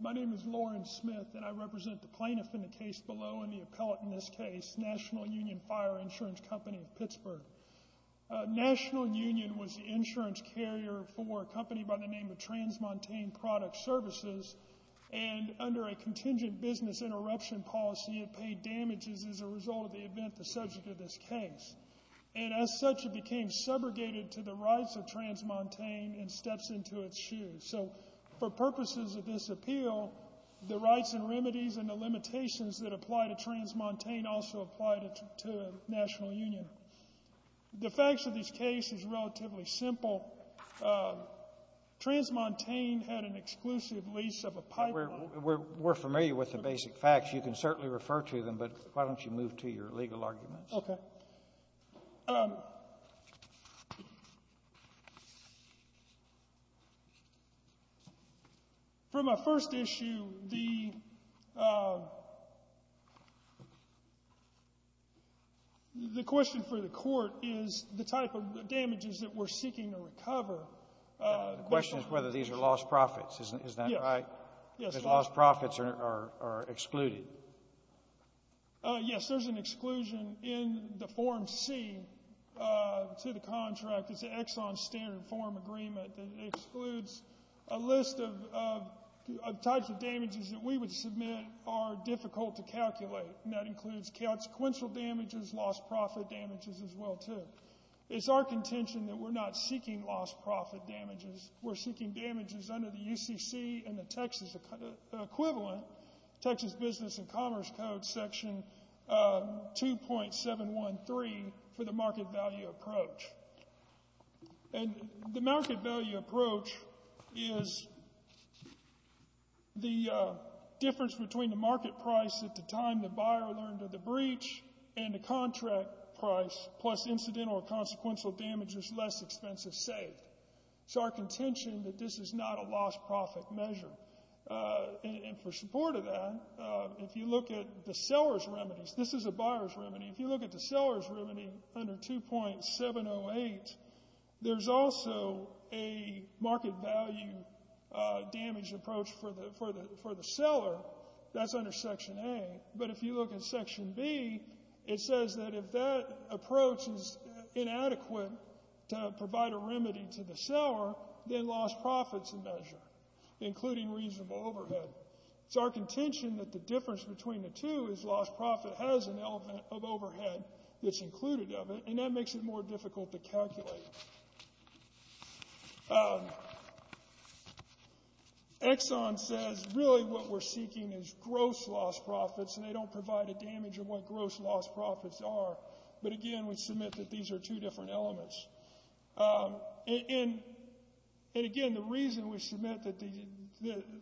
My name is Loren Smith and I represent the plaintiff in the case below and the appellate in this case, National Union Fire Insurance Company of Pittsburgh. National Union was the insurance carrier for a company by the name of Transmontane Product Services and under a contingent business interruption policy it paid damages as a result of the event the subject of this case. And as such it became segregated to the rights of Transmontane and steps into its shoes. So for purposes of this appeal the rights and remedies and the limitations that apply to Transmontane also apply to National Union. The facts of this case is relatively simple. Transmontane had an exclusive lease of a pipeline. We're familiar with the basic facts. You can certainly refer to them, but why don't you move to your legal arguments. Okay. For my first issue, the question for the court is the type of damages that we're seeking to recover. The question is whether these are lost profits. Is that right? Yes. Because lost profits are excluded. Yes, there's an exclusion in the form C to the contract. It's an Exxon standard form agreement that excludes a list of types of damages that we would submit are difficult to calculate. And that includes consequential damages, lost profit damages as well too. It's our contention that we're not seeking lost profit damages. We're seeking damages under the UCC and the Texas equivalent. Texas Business and Commerce Code Section 2.713 for the market value approach. And the market value approach is the difference between the market price at the time the buyer learned of the breach and the contract price plus incidental or consequential damages less expensive saved. It's our contention that this is not a lost profit measure. And for support of that, if you look at the seller's remedies, this is a buyer's remedy. If you look at the seller's remedy under 2.708, there's also a market value damage approach for the seller. That's under Section A. But if you look at Section B, it says that if that approach is inadequate to provide a remedy to the seller, then lost profit's the measure, including reasonable overhead. It's our contention that the difference between the two is lost profit has an element of overhead that's included of it, and that makes it more difficult to calculate. Exxon says really what we're seeking is gross lost profits, and they don't provide a damage of what gross lost profits are. But again, we submit that these are two different elements. And, again, the reason we submit that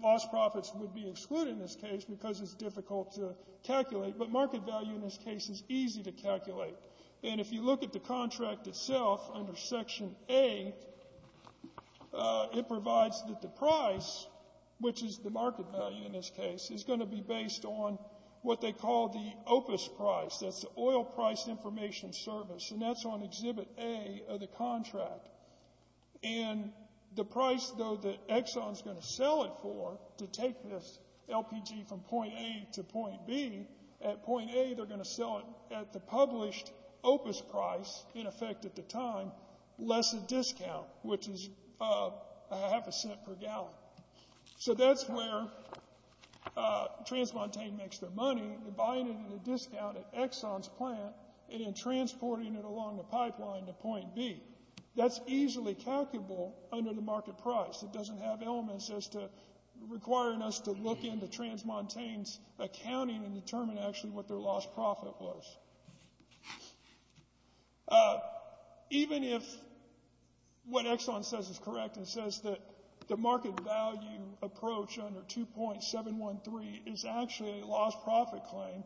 lost profits would be excluded in this case because it's difficult to calculate, but market value in this case is easy to calculate. And if you look at the contract itself under Section A, it provides that the price, which is the market value in this case, is going to be based on what they call the opus price. That's the oil price information service. And that's on Exhibit A of the contract. And the price, though, that Exxon's going to sell it for to take this LPG from point A to point B, at point A they're going to sell it at the published opus price, in effect at the time, less a discount, which is a half a cent per gallon. So that's where Transmontane makes their money, buying it at a discount at Exxon's plant and then transporting it along the pipeline to point B. That's easily calculable under the market price. It doesn't have elements as to requiring us to look into Transmontane's accounting and determine actually what their lost profit was. Even if what Exxon says is correct and says that the market value approach under 2.713 is actually a lost profit claim,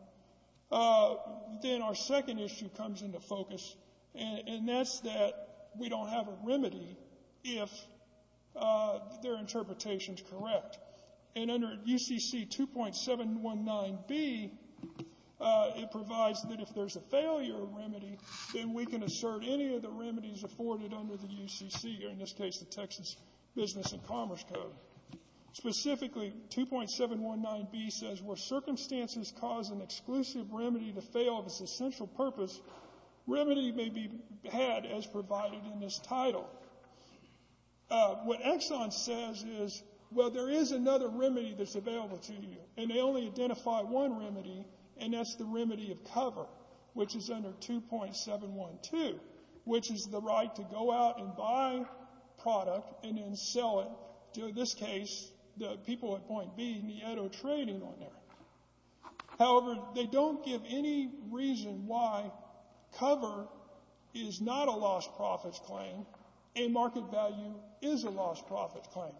then our second issue comes into focus, and that's that we don't have a remedy if their interpretation is correct. And under UCC 2.719B, it provides that if there's a failure remedy, then we can assert any of the remedies afforded under the UCC, or in this case, the Texas Business and Commerce Code. Specifically, 2.719B says, where circumstances cause an exclusive remedy to fail of its essential purpose, remedy may be had as provided in this title. What Exxon says is, well, there is another remedy that's available to you, and they only identify one remedy, and that's the remedy of cover, which is under 2.712, which is the right to go out and buy product and then sell it to, in this case, the people at point B in the Edo trading on there. However, they don't give any reason why cover is not a lost profit claim, and market value is a lost profit claim.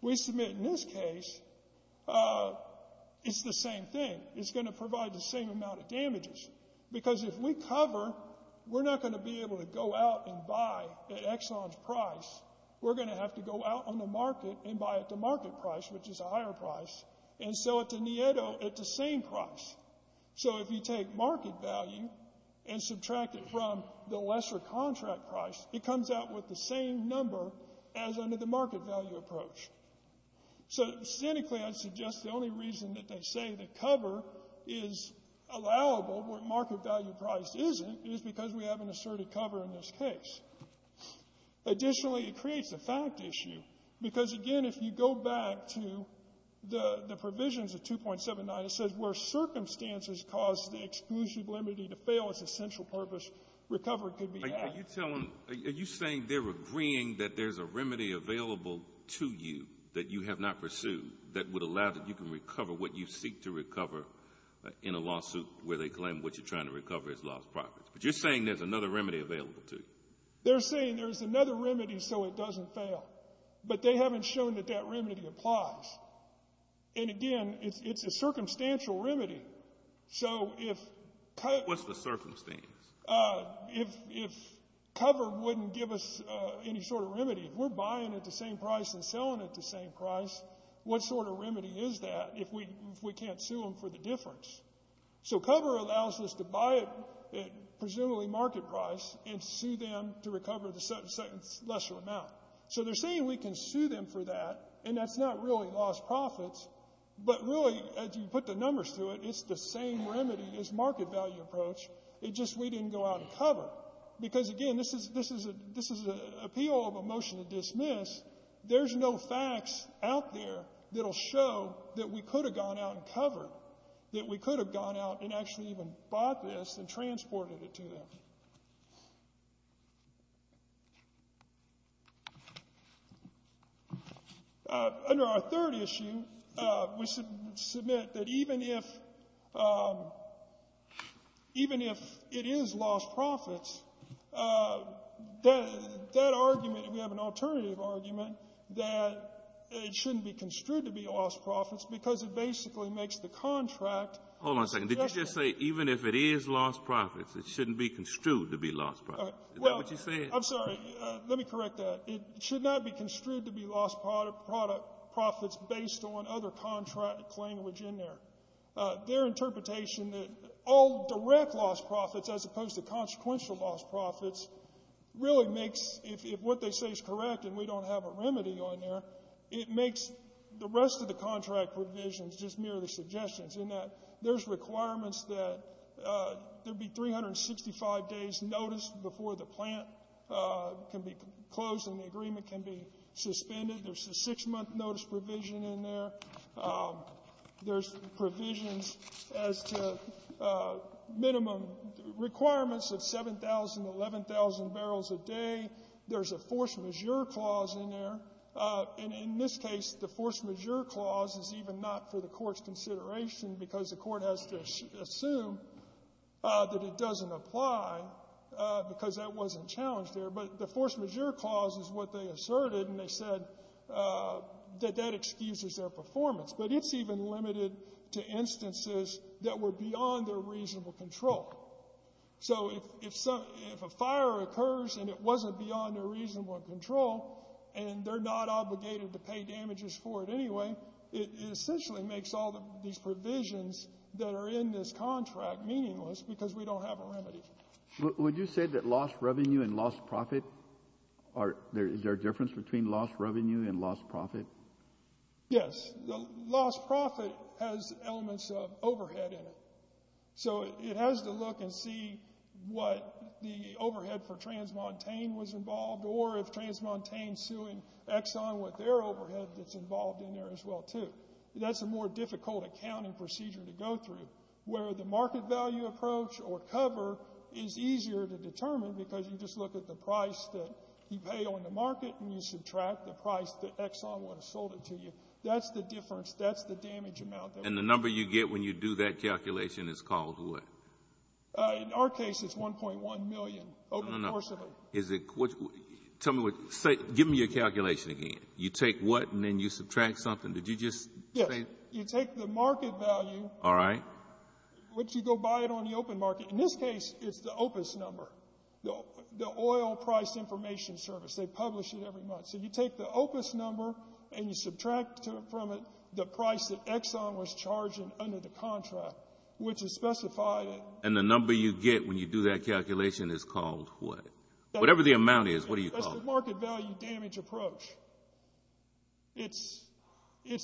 We submit, in this case, it's the same thing. It's going to provide the same amount of damages, because if we cover, we're not going to be able to go out and buy at Exxon's price. We're going to have to go out on the market and buy at the market price, which is a higher price, and sell it to the Edo at the same price. So if you take market value and subtract it from the lesser contract price, it comes out with the same number as under the market value approach. So, cynically, I'd suggest the only reason that they say that cover is allowable where market value price isn't is because we have an asserted cover in this case. Additionally, it creates a fact issue, because, again, if you go back to the provisions of 2.79, it says where circumstances cause the exclusive remedy to fail, it's a central purpose recovery could be had. Are you saying they're agreeing that there's a remedy available to you that you have not pursued that would allow that you can recover what you seek to recover in a lawsuit where they claim what you're trying to recover is lost property? But you're saying there's another remedy available to you. They're saying there's another remedy so it doesn't fail. But they haven't shown that that remedy applies. And, again, it's a circumstantial remedy. What's the circumstance? If cover wouldn't give us any sort of remedy, if we're buying at the same price and selling at the same price, what sort of remedy is that if we can't sue them for the difference? So cover allows us to buy at, presumably, market price and sue them to recover the lesser amount. So they're saying we can sue them for that, and that's not really lost profits, but really, as you put the numbers to it, it's the same remedy as market value approach. It's just we didn't go out and cover. Because, again, this is an appeal of a motion to dismiss. There's no facts out there that will show that we could have gone out and covered, that we could have gone out and actually even bought this and transported it to them. Under our third issue, we submit that even if — even if it is lost profits, that argument, we have an alternative argument that it shouldn't be construed to be lost profits because it basically makes the contract. Hold on a second. Did you just say even if it is lost profits, it shouldn't be construed to be lost profits? Is that what you said? I'm sorry. Let me correct that. It should not be construed to be lost profits based on other contract language in there. Their interpretation that all direct lost profits as opposed to consequential lost profits really makes — if what they say is correct and we don't have a remedy on there, it makes the rest of the contract provisions just merely suggestions in that there's requirements that there be 365 days notice before the plant can be closed and the agreement can be suspended. There's a six-month notice provision in there. There's provisions as to minimum requirements of 7,000, 11,000 barrels a day. There's a force majeure clause in there. And in this case, the force majeure clause is even not for the Court's consideration because the Court has to assume that it doesn't apply because that wasn't challenged there. But the force majeure clause is what they asserted, and they said that that excuses their performance. But it's even limited to instances that were beyond their reasonable control. So if a fire occurs and it wasn't beyond their reasonable control and they're not obligated to pay damages for it anyway, it essentially makes all of these provisions that are in this contract meaningless because we don't have a remedy. Would you say that lost revenue and lost profit are — is there a difference between lost revenue and lost profit? Yes. The lost profit has elements of overhead in it. So it has to look and see what the overhead for Transmontane was involved or if it's involved in there as well, too. That's a more difficult accounting procedure to go through, where the market value approach or cover is easier to determine because you just look at the price that you pay on the market and you subtract the price that Exxon would have sold it to you. That's the difference. That's the damage amount there. And the number you get when you do that calculation is called what? In our case, it's 1.1 million open porcelain. Tell me what — give me your calculation again. You take what and then you subtract something. Did you just say — Yes. You take the market value. All right. But you go buy it on the open market. In this case, it's the OPIS number, the Oil Price Information Service. They publish it every month. So you take the OPIS number and you subtract from it the price that Exxon was charging under the contract, which is specified — And the number you get when you do that calculation is called what? Whatever the amount is, what do you call it? That's the market value damage approach. It's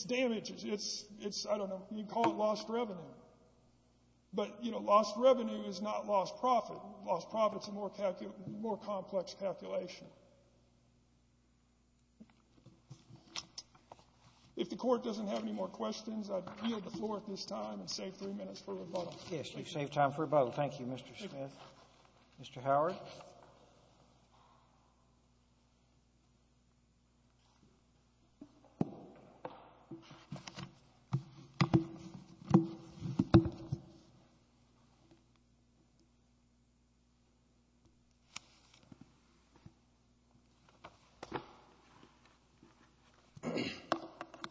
damage. It's — I don't know. You can call it lost revenue. But, you know, lost revenue is not lost profit. Lost profit is a more complex calculation. If the Court doesn't have any more questions, I yield the floor at this time and save three minutes for rebuttal. Yes, you've saved time for rebuttal. Thank you, Mr. Smith. Mr. Howard?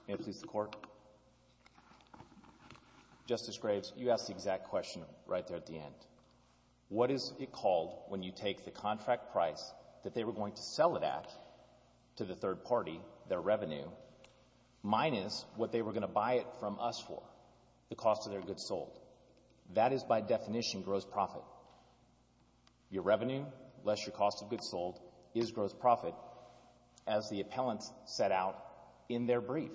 May it please the Court? Justice Graves, you asked the exact question right there at the end. What is it called when you take the contract price that they were going to sell it at to the third party, their revenue, minus what they were going to buy it from us for, the cost of their goods sold? That is, by definition, gross profit. Your revenue less your cost of goods sold is gross profit, as the appellants set out in their brief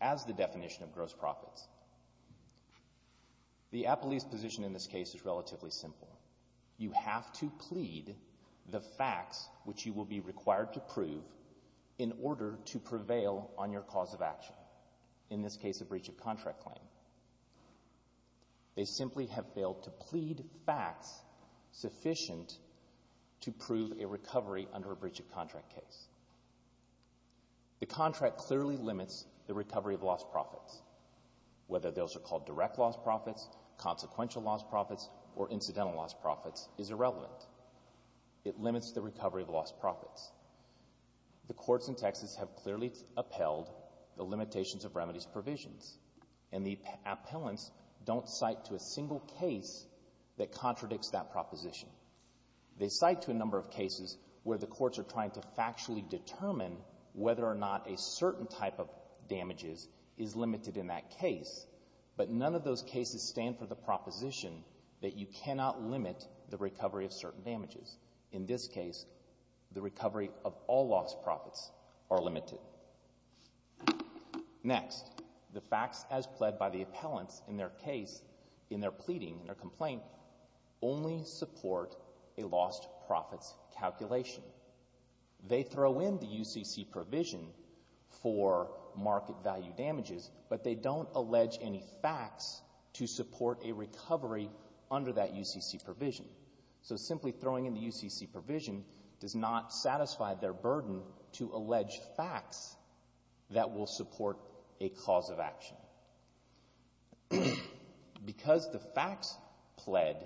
as the definition of gross profits. The appellee's position in this case is relatively simple. You have to plead the facts, which you will be required to prove, in order to prevail on your cause of action, in this case a breach of contract claim. They simply have failed to plead facts sufficient to prove a recovery under a breach of contract case. The contract clearly limits the recovery of lost profits. Whether those are called direct lost profits, consequential lost profits, or incidental lost profits is irrelevant. It limits the recovery of lost profits. The courts in Texas have clearly upheld the limitations of remedies provisions, and the appellants don't cite to a single case that contradicts that proposition. They cite to a number of cases where the courts are trying to factually determine whether or not a certain type of damages is limited in that case, but none of those cases stand for the proposition that you cannot limit the recovery of certain damages. In this case, the recovery of all lost profits are limited. Next, the facts as pled by the appellants in their case, in their pleading, in their complaint, only support a lost profits calculation. They throw in the UCC provision for market value damages, but they don't allege any facts to support a recovery under that UCC provision. So simply throwing in the UCC provision does not satisfy their burden to allege facts that will support a cause of action. Because the facts pled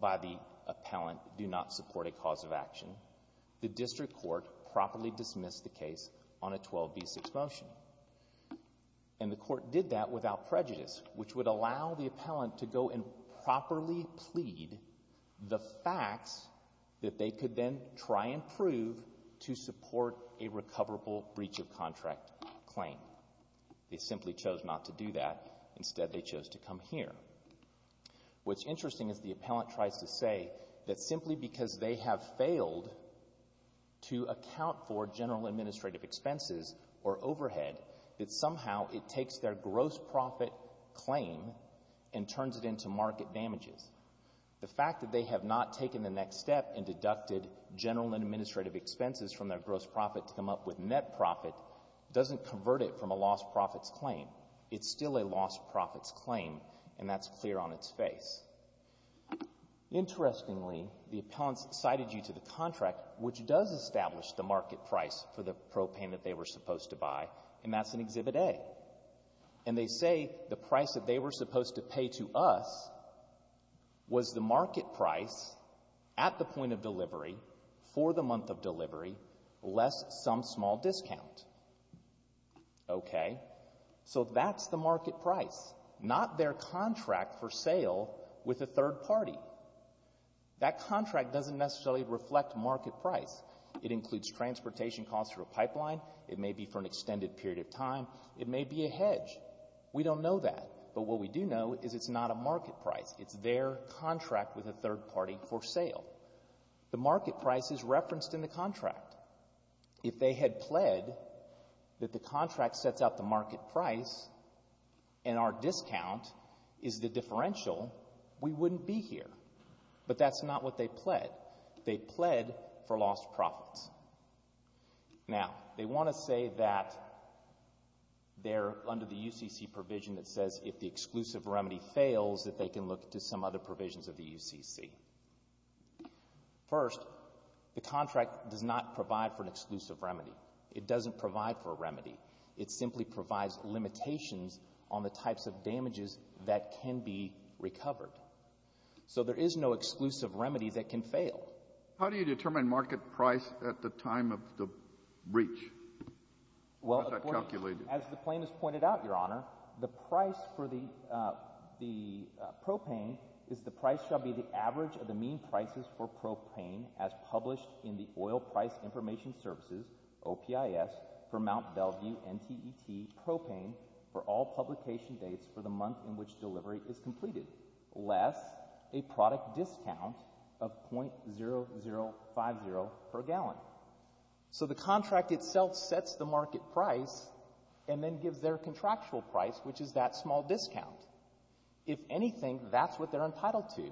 by the appellant do not support a cause of action, the district court properly dismissed the case on a 12b6 motion, and the court did that without prejudice, which would allow the appellant to go and properly plead the facts that they could then try and prove to support a recoverable breach of contract claim. They simply chose not to do that. Instead, they chose to come here. What's interesting is the appellant tries to say that simply because they have failed to account for general administrative expenses or overhead, that somehow it takes their gross profit claim and turns it into market damages. The fact that they have not taken the next step and deducted general administrative expenses from their gross profit to come up with net profit doesn't convert it from a lost profits claim. It's still a lost profits claim, and that's clear on its face. Interestingly, the appellants cited you to the contract, which does establish the market price for the propane that they were supposed to buy, and that's in Exhibit A. And they say the price that they were supposed to pay to us was the market price at the point of delivery, for the month of delivery, less some small discount. Okay. So that's the market price, not their contract for sale with a third party. That contract doesn't necessarily reflect market price. It includes transportation costs for a pipeline. It may be for an extended period of time. It may be a hedge. We don't know that, but what we do know is it's not a market price. It's their contract with a third party for sale. The market price is referenced in the contract. If they had pled that the contract sets out the market price and our discount is the differential, we wouldn't be here. But that's not what they pled. They pled for lost profits. Now, they want to say that they're under the UCC provision that says if the exclusive remedy fails that they can look to some other provisions of the UCC. First, the contract does not provide for an exclusive remedy. It doesn't provide for a remedy. It simply provides limitations on the types of damages that can be recovered. So there is no exclusive remedy that can fail. How do you determine market price at the time of the breach? How is that calculated? As the claim has pointed out, Your Honor, the price for the propane is the price shall be the average of the mean prices for propane as published in the Oil Price Information Services, OPIS, for Mt. Bellevue NTET propane for all publication dates for the month in which delivery is completed, less a product discount of .0050 per gallon. So the contract itself sets the market price and then gives their contractual price, which is that small discount. If anything, that's what they're entitled to,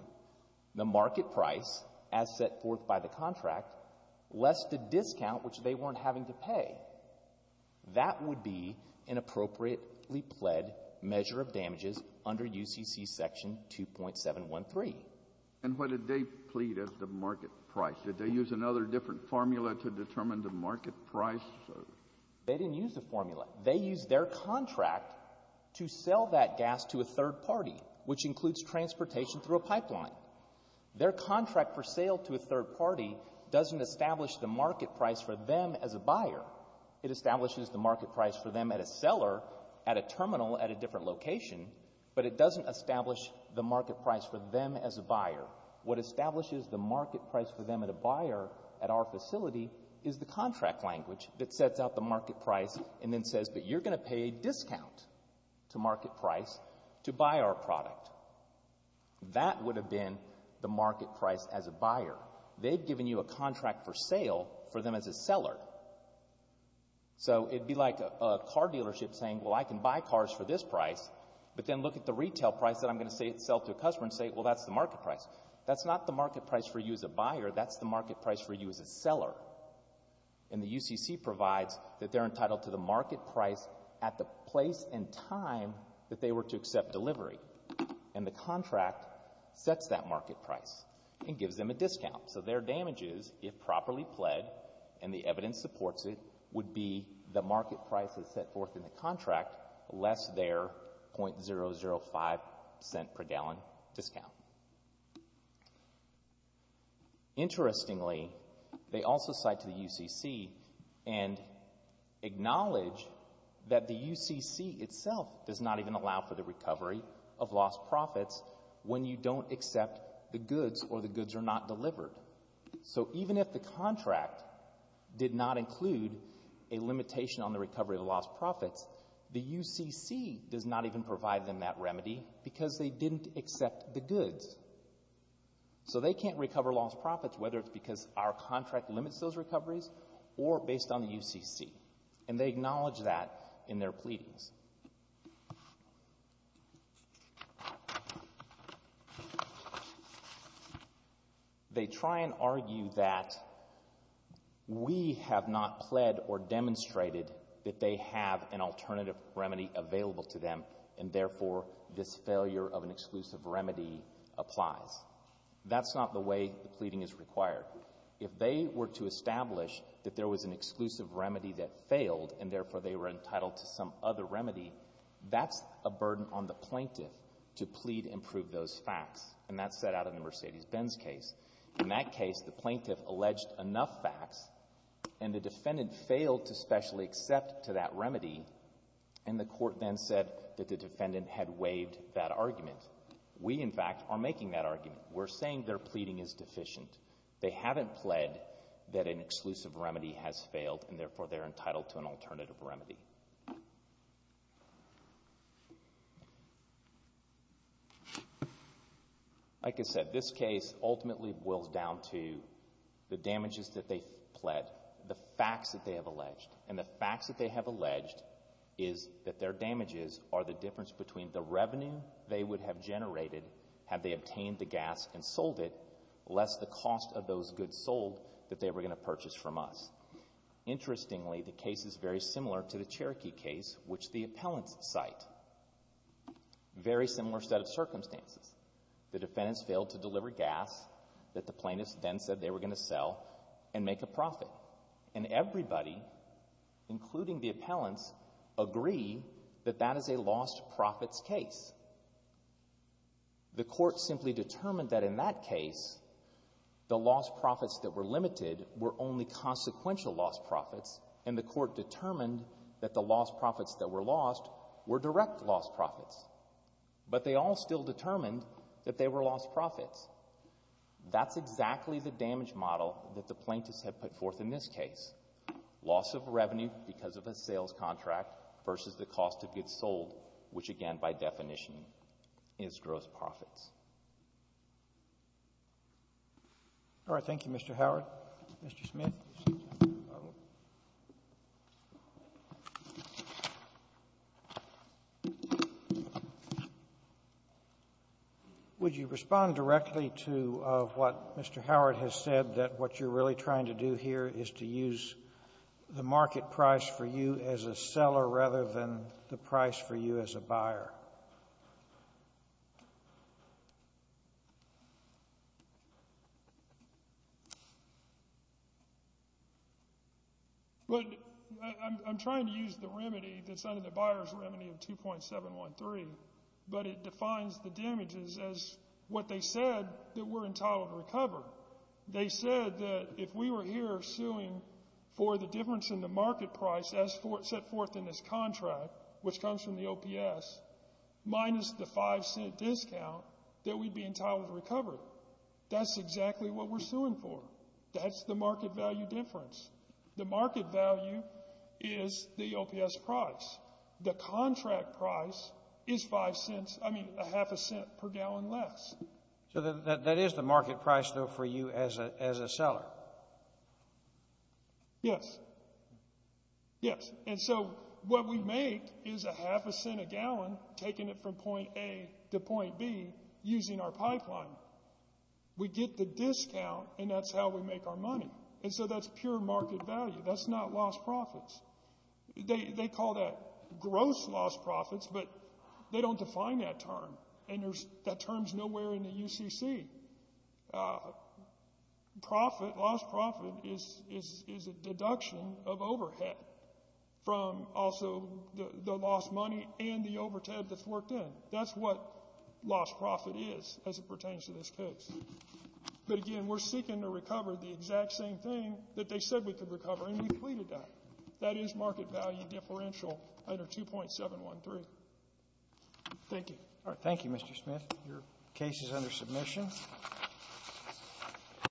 the market price as set forth by the contract, less the discount, which they weren't having to pay. That would be an appropriately pled measure of damages under UCC Section 2.713. And what did they plead as the market price? Did they use another different formula to determine the market price? They didn't use the formula. They used their contract to sell that gas to a third party, which includes transportation through a pipeline. Their contract for sale to a third party doesn't establish the market price for them as a buyer. It establishes the market price for them at a seller at a terminal at a different location, What establishes the market price for them at a buyer at our facility is the contract language that sets out the market price and then says, but you're going to pay a discount to market price to buy our product. That would have been the market price as a buyer. They've given you a contract for sale for them as a seller. So it would be like a car dealership saying, well, I can buy cars for this price, but then look at the retail price that I'm going to sell to a customer and say, well, that's the market price. That's not the market price for you as a buyer. That's the market price for you as a seller. And the UCC provides that they're entitled to the market price at the place and time that they were to accept delivery. And the contract sets that market price and gives them a discount. So their damages, if properly pled, and the evidence supports it, would be the market price that's set forth in the contract less their .005 cent per gallon discount. Interestingly, they also cite to the UCC and acknowledge that the UCC itself does not even allow for the recovery of lost profits when you don't accept the goods or the goods are not delivered. So even if the contract did not include a limitation on the recovery of lost profits, the UCC does not even provide them that remedy because they didn't accept the goods. So they can't recover lost profits, whether it's because our contract limits those recoveries or based on the UCC. And they acknowledge that in their pleadings. They try and argue that we have not pled or demonstrated that they have an alternative remedy available to them, and therefore this failure of an exclusive remedy applies. That's not the way the pleading is required. If they were to establish that there was an exclusive remedy that failed and therefore they were entitled to some other remedy, that's a burden on the plaintiff to plead and prove those facts, and that's set out in the Mercedes-Benz case. In that case, the plaintiff alleged enough facts and the defendant failed to specially accept to that remedy, and the court then said that the defendant had waived that argument. We, in fact, are making that argument. We're saying their pleading is deficient. They haven't pled that an exclusive remedy has failed, and therefore they're entitled to an alternative remedy. Like I said, this case ultimately boils down to the damages that they've pled, the facts that they have alleged, and the facts that they have alleged is that their damages are the difference between the revenue they would have generated had they obtained the gas and sold it, less the cost of those goods sold that they were going to purchase from us. Interestingly, the case is very similar to the Cherokee case, which the appellants cite. Very similar set of circumstances. The defendants failed to deliver gas that the plaintiffs then said they were going to sell and make a profit, and everybody, including the appellants, agree that that is a lost profits case. The court simply determined that in that case, the lost profits that were limited were only consequential lost profits, and the court determined that the lost profits that were lost were direct lost profits. But they all still determined that they were lost profits. That's exactly the damage model that the plaintiffs have put forth in this case. Loss of revenue because of a sales contract versus the cost of goods sold, which again, by definition, is gross profits. All right. Thank you, Mr. Howard. Mr. Smith. Thank you, Mr. Chairman. Would you respond directly to what Mr. Howard has said, that what you're really trying to do here is to use the market price for you as a seller rather than the price for you as a buyer? I'm trying to use the remedy that's under the buyer's remedy of 2.713, but it defines the damages as what they said that were entitled to recover. They said that if we were here suing for the difference in the market price as set forth in this contract, which comes from the OPS, minus the 5-cent discount, that we'd be entitled to recover. That's exactly what we're suing for. That's the market value difference. The market value is the OPS price. The contract price is 5 cents, I mean, a half a cent per gallon less. So that is the market price, though, for you as a seller? Yes. Yes. And so what we make is a half a cent a gallon, taking it from point A to point B, using our pipeline. We get the discount, and that's how we make our money. And so that's pure market value. That's not lost profits. They call that gross lost profits, but they don't define that term. And that term's nowhere in the UCC. Profit, lost profit, is a deduction of overhead from also the lost money and the overtime that's worked in. That's what lost profit is as it pertains to this case. But, again, we're seeking to recover the exact same thing that they said we could recover, and we pleaded that. That is market value differential under 2.713. Thank you. All right. Thank you, Mr. Smith. Your case is under submission.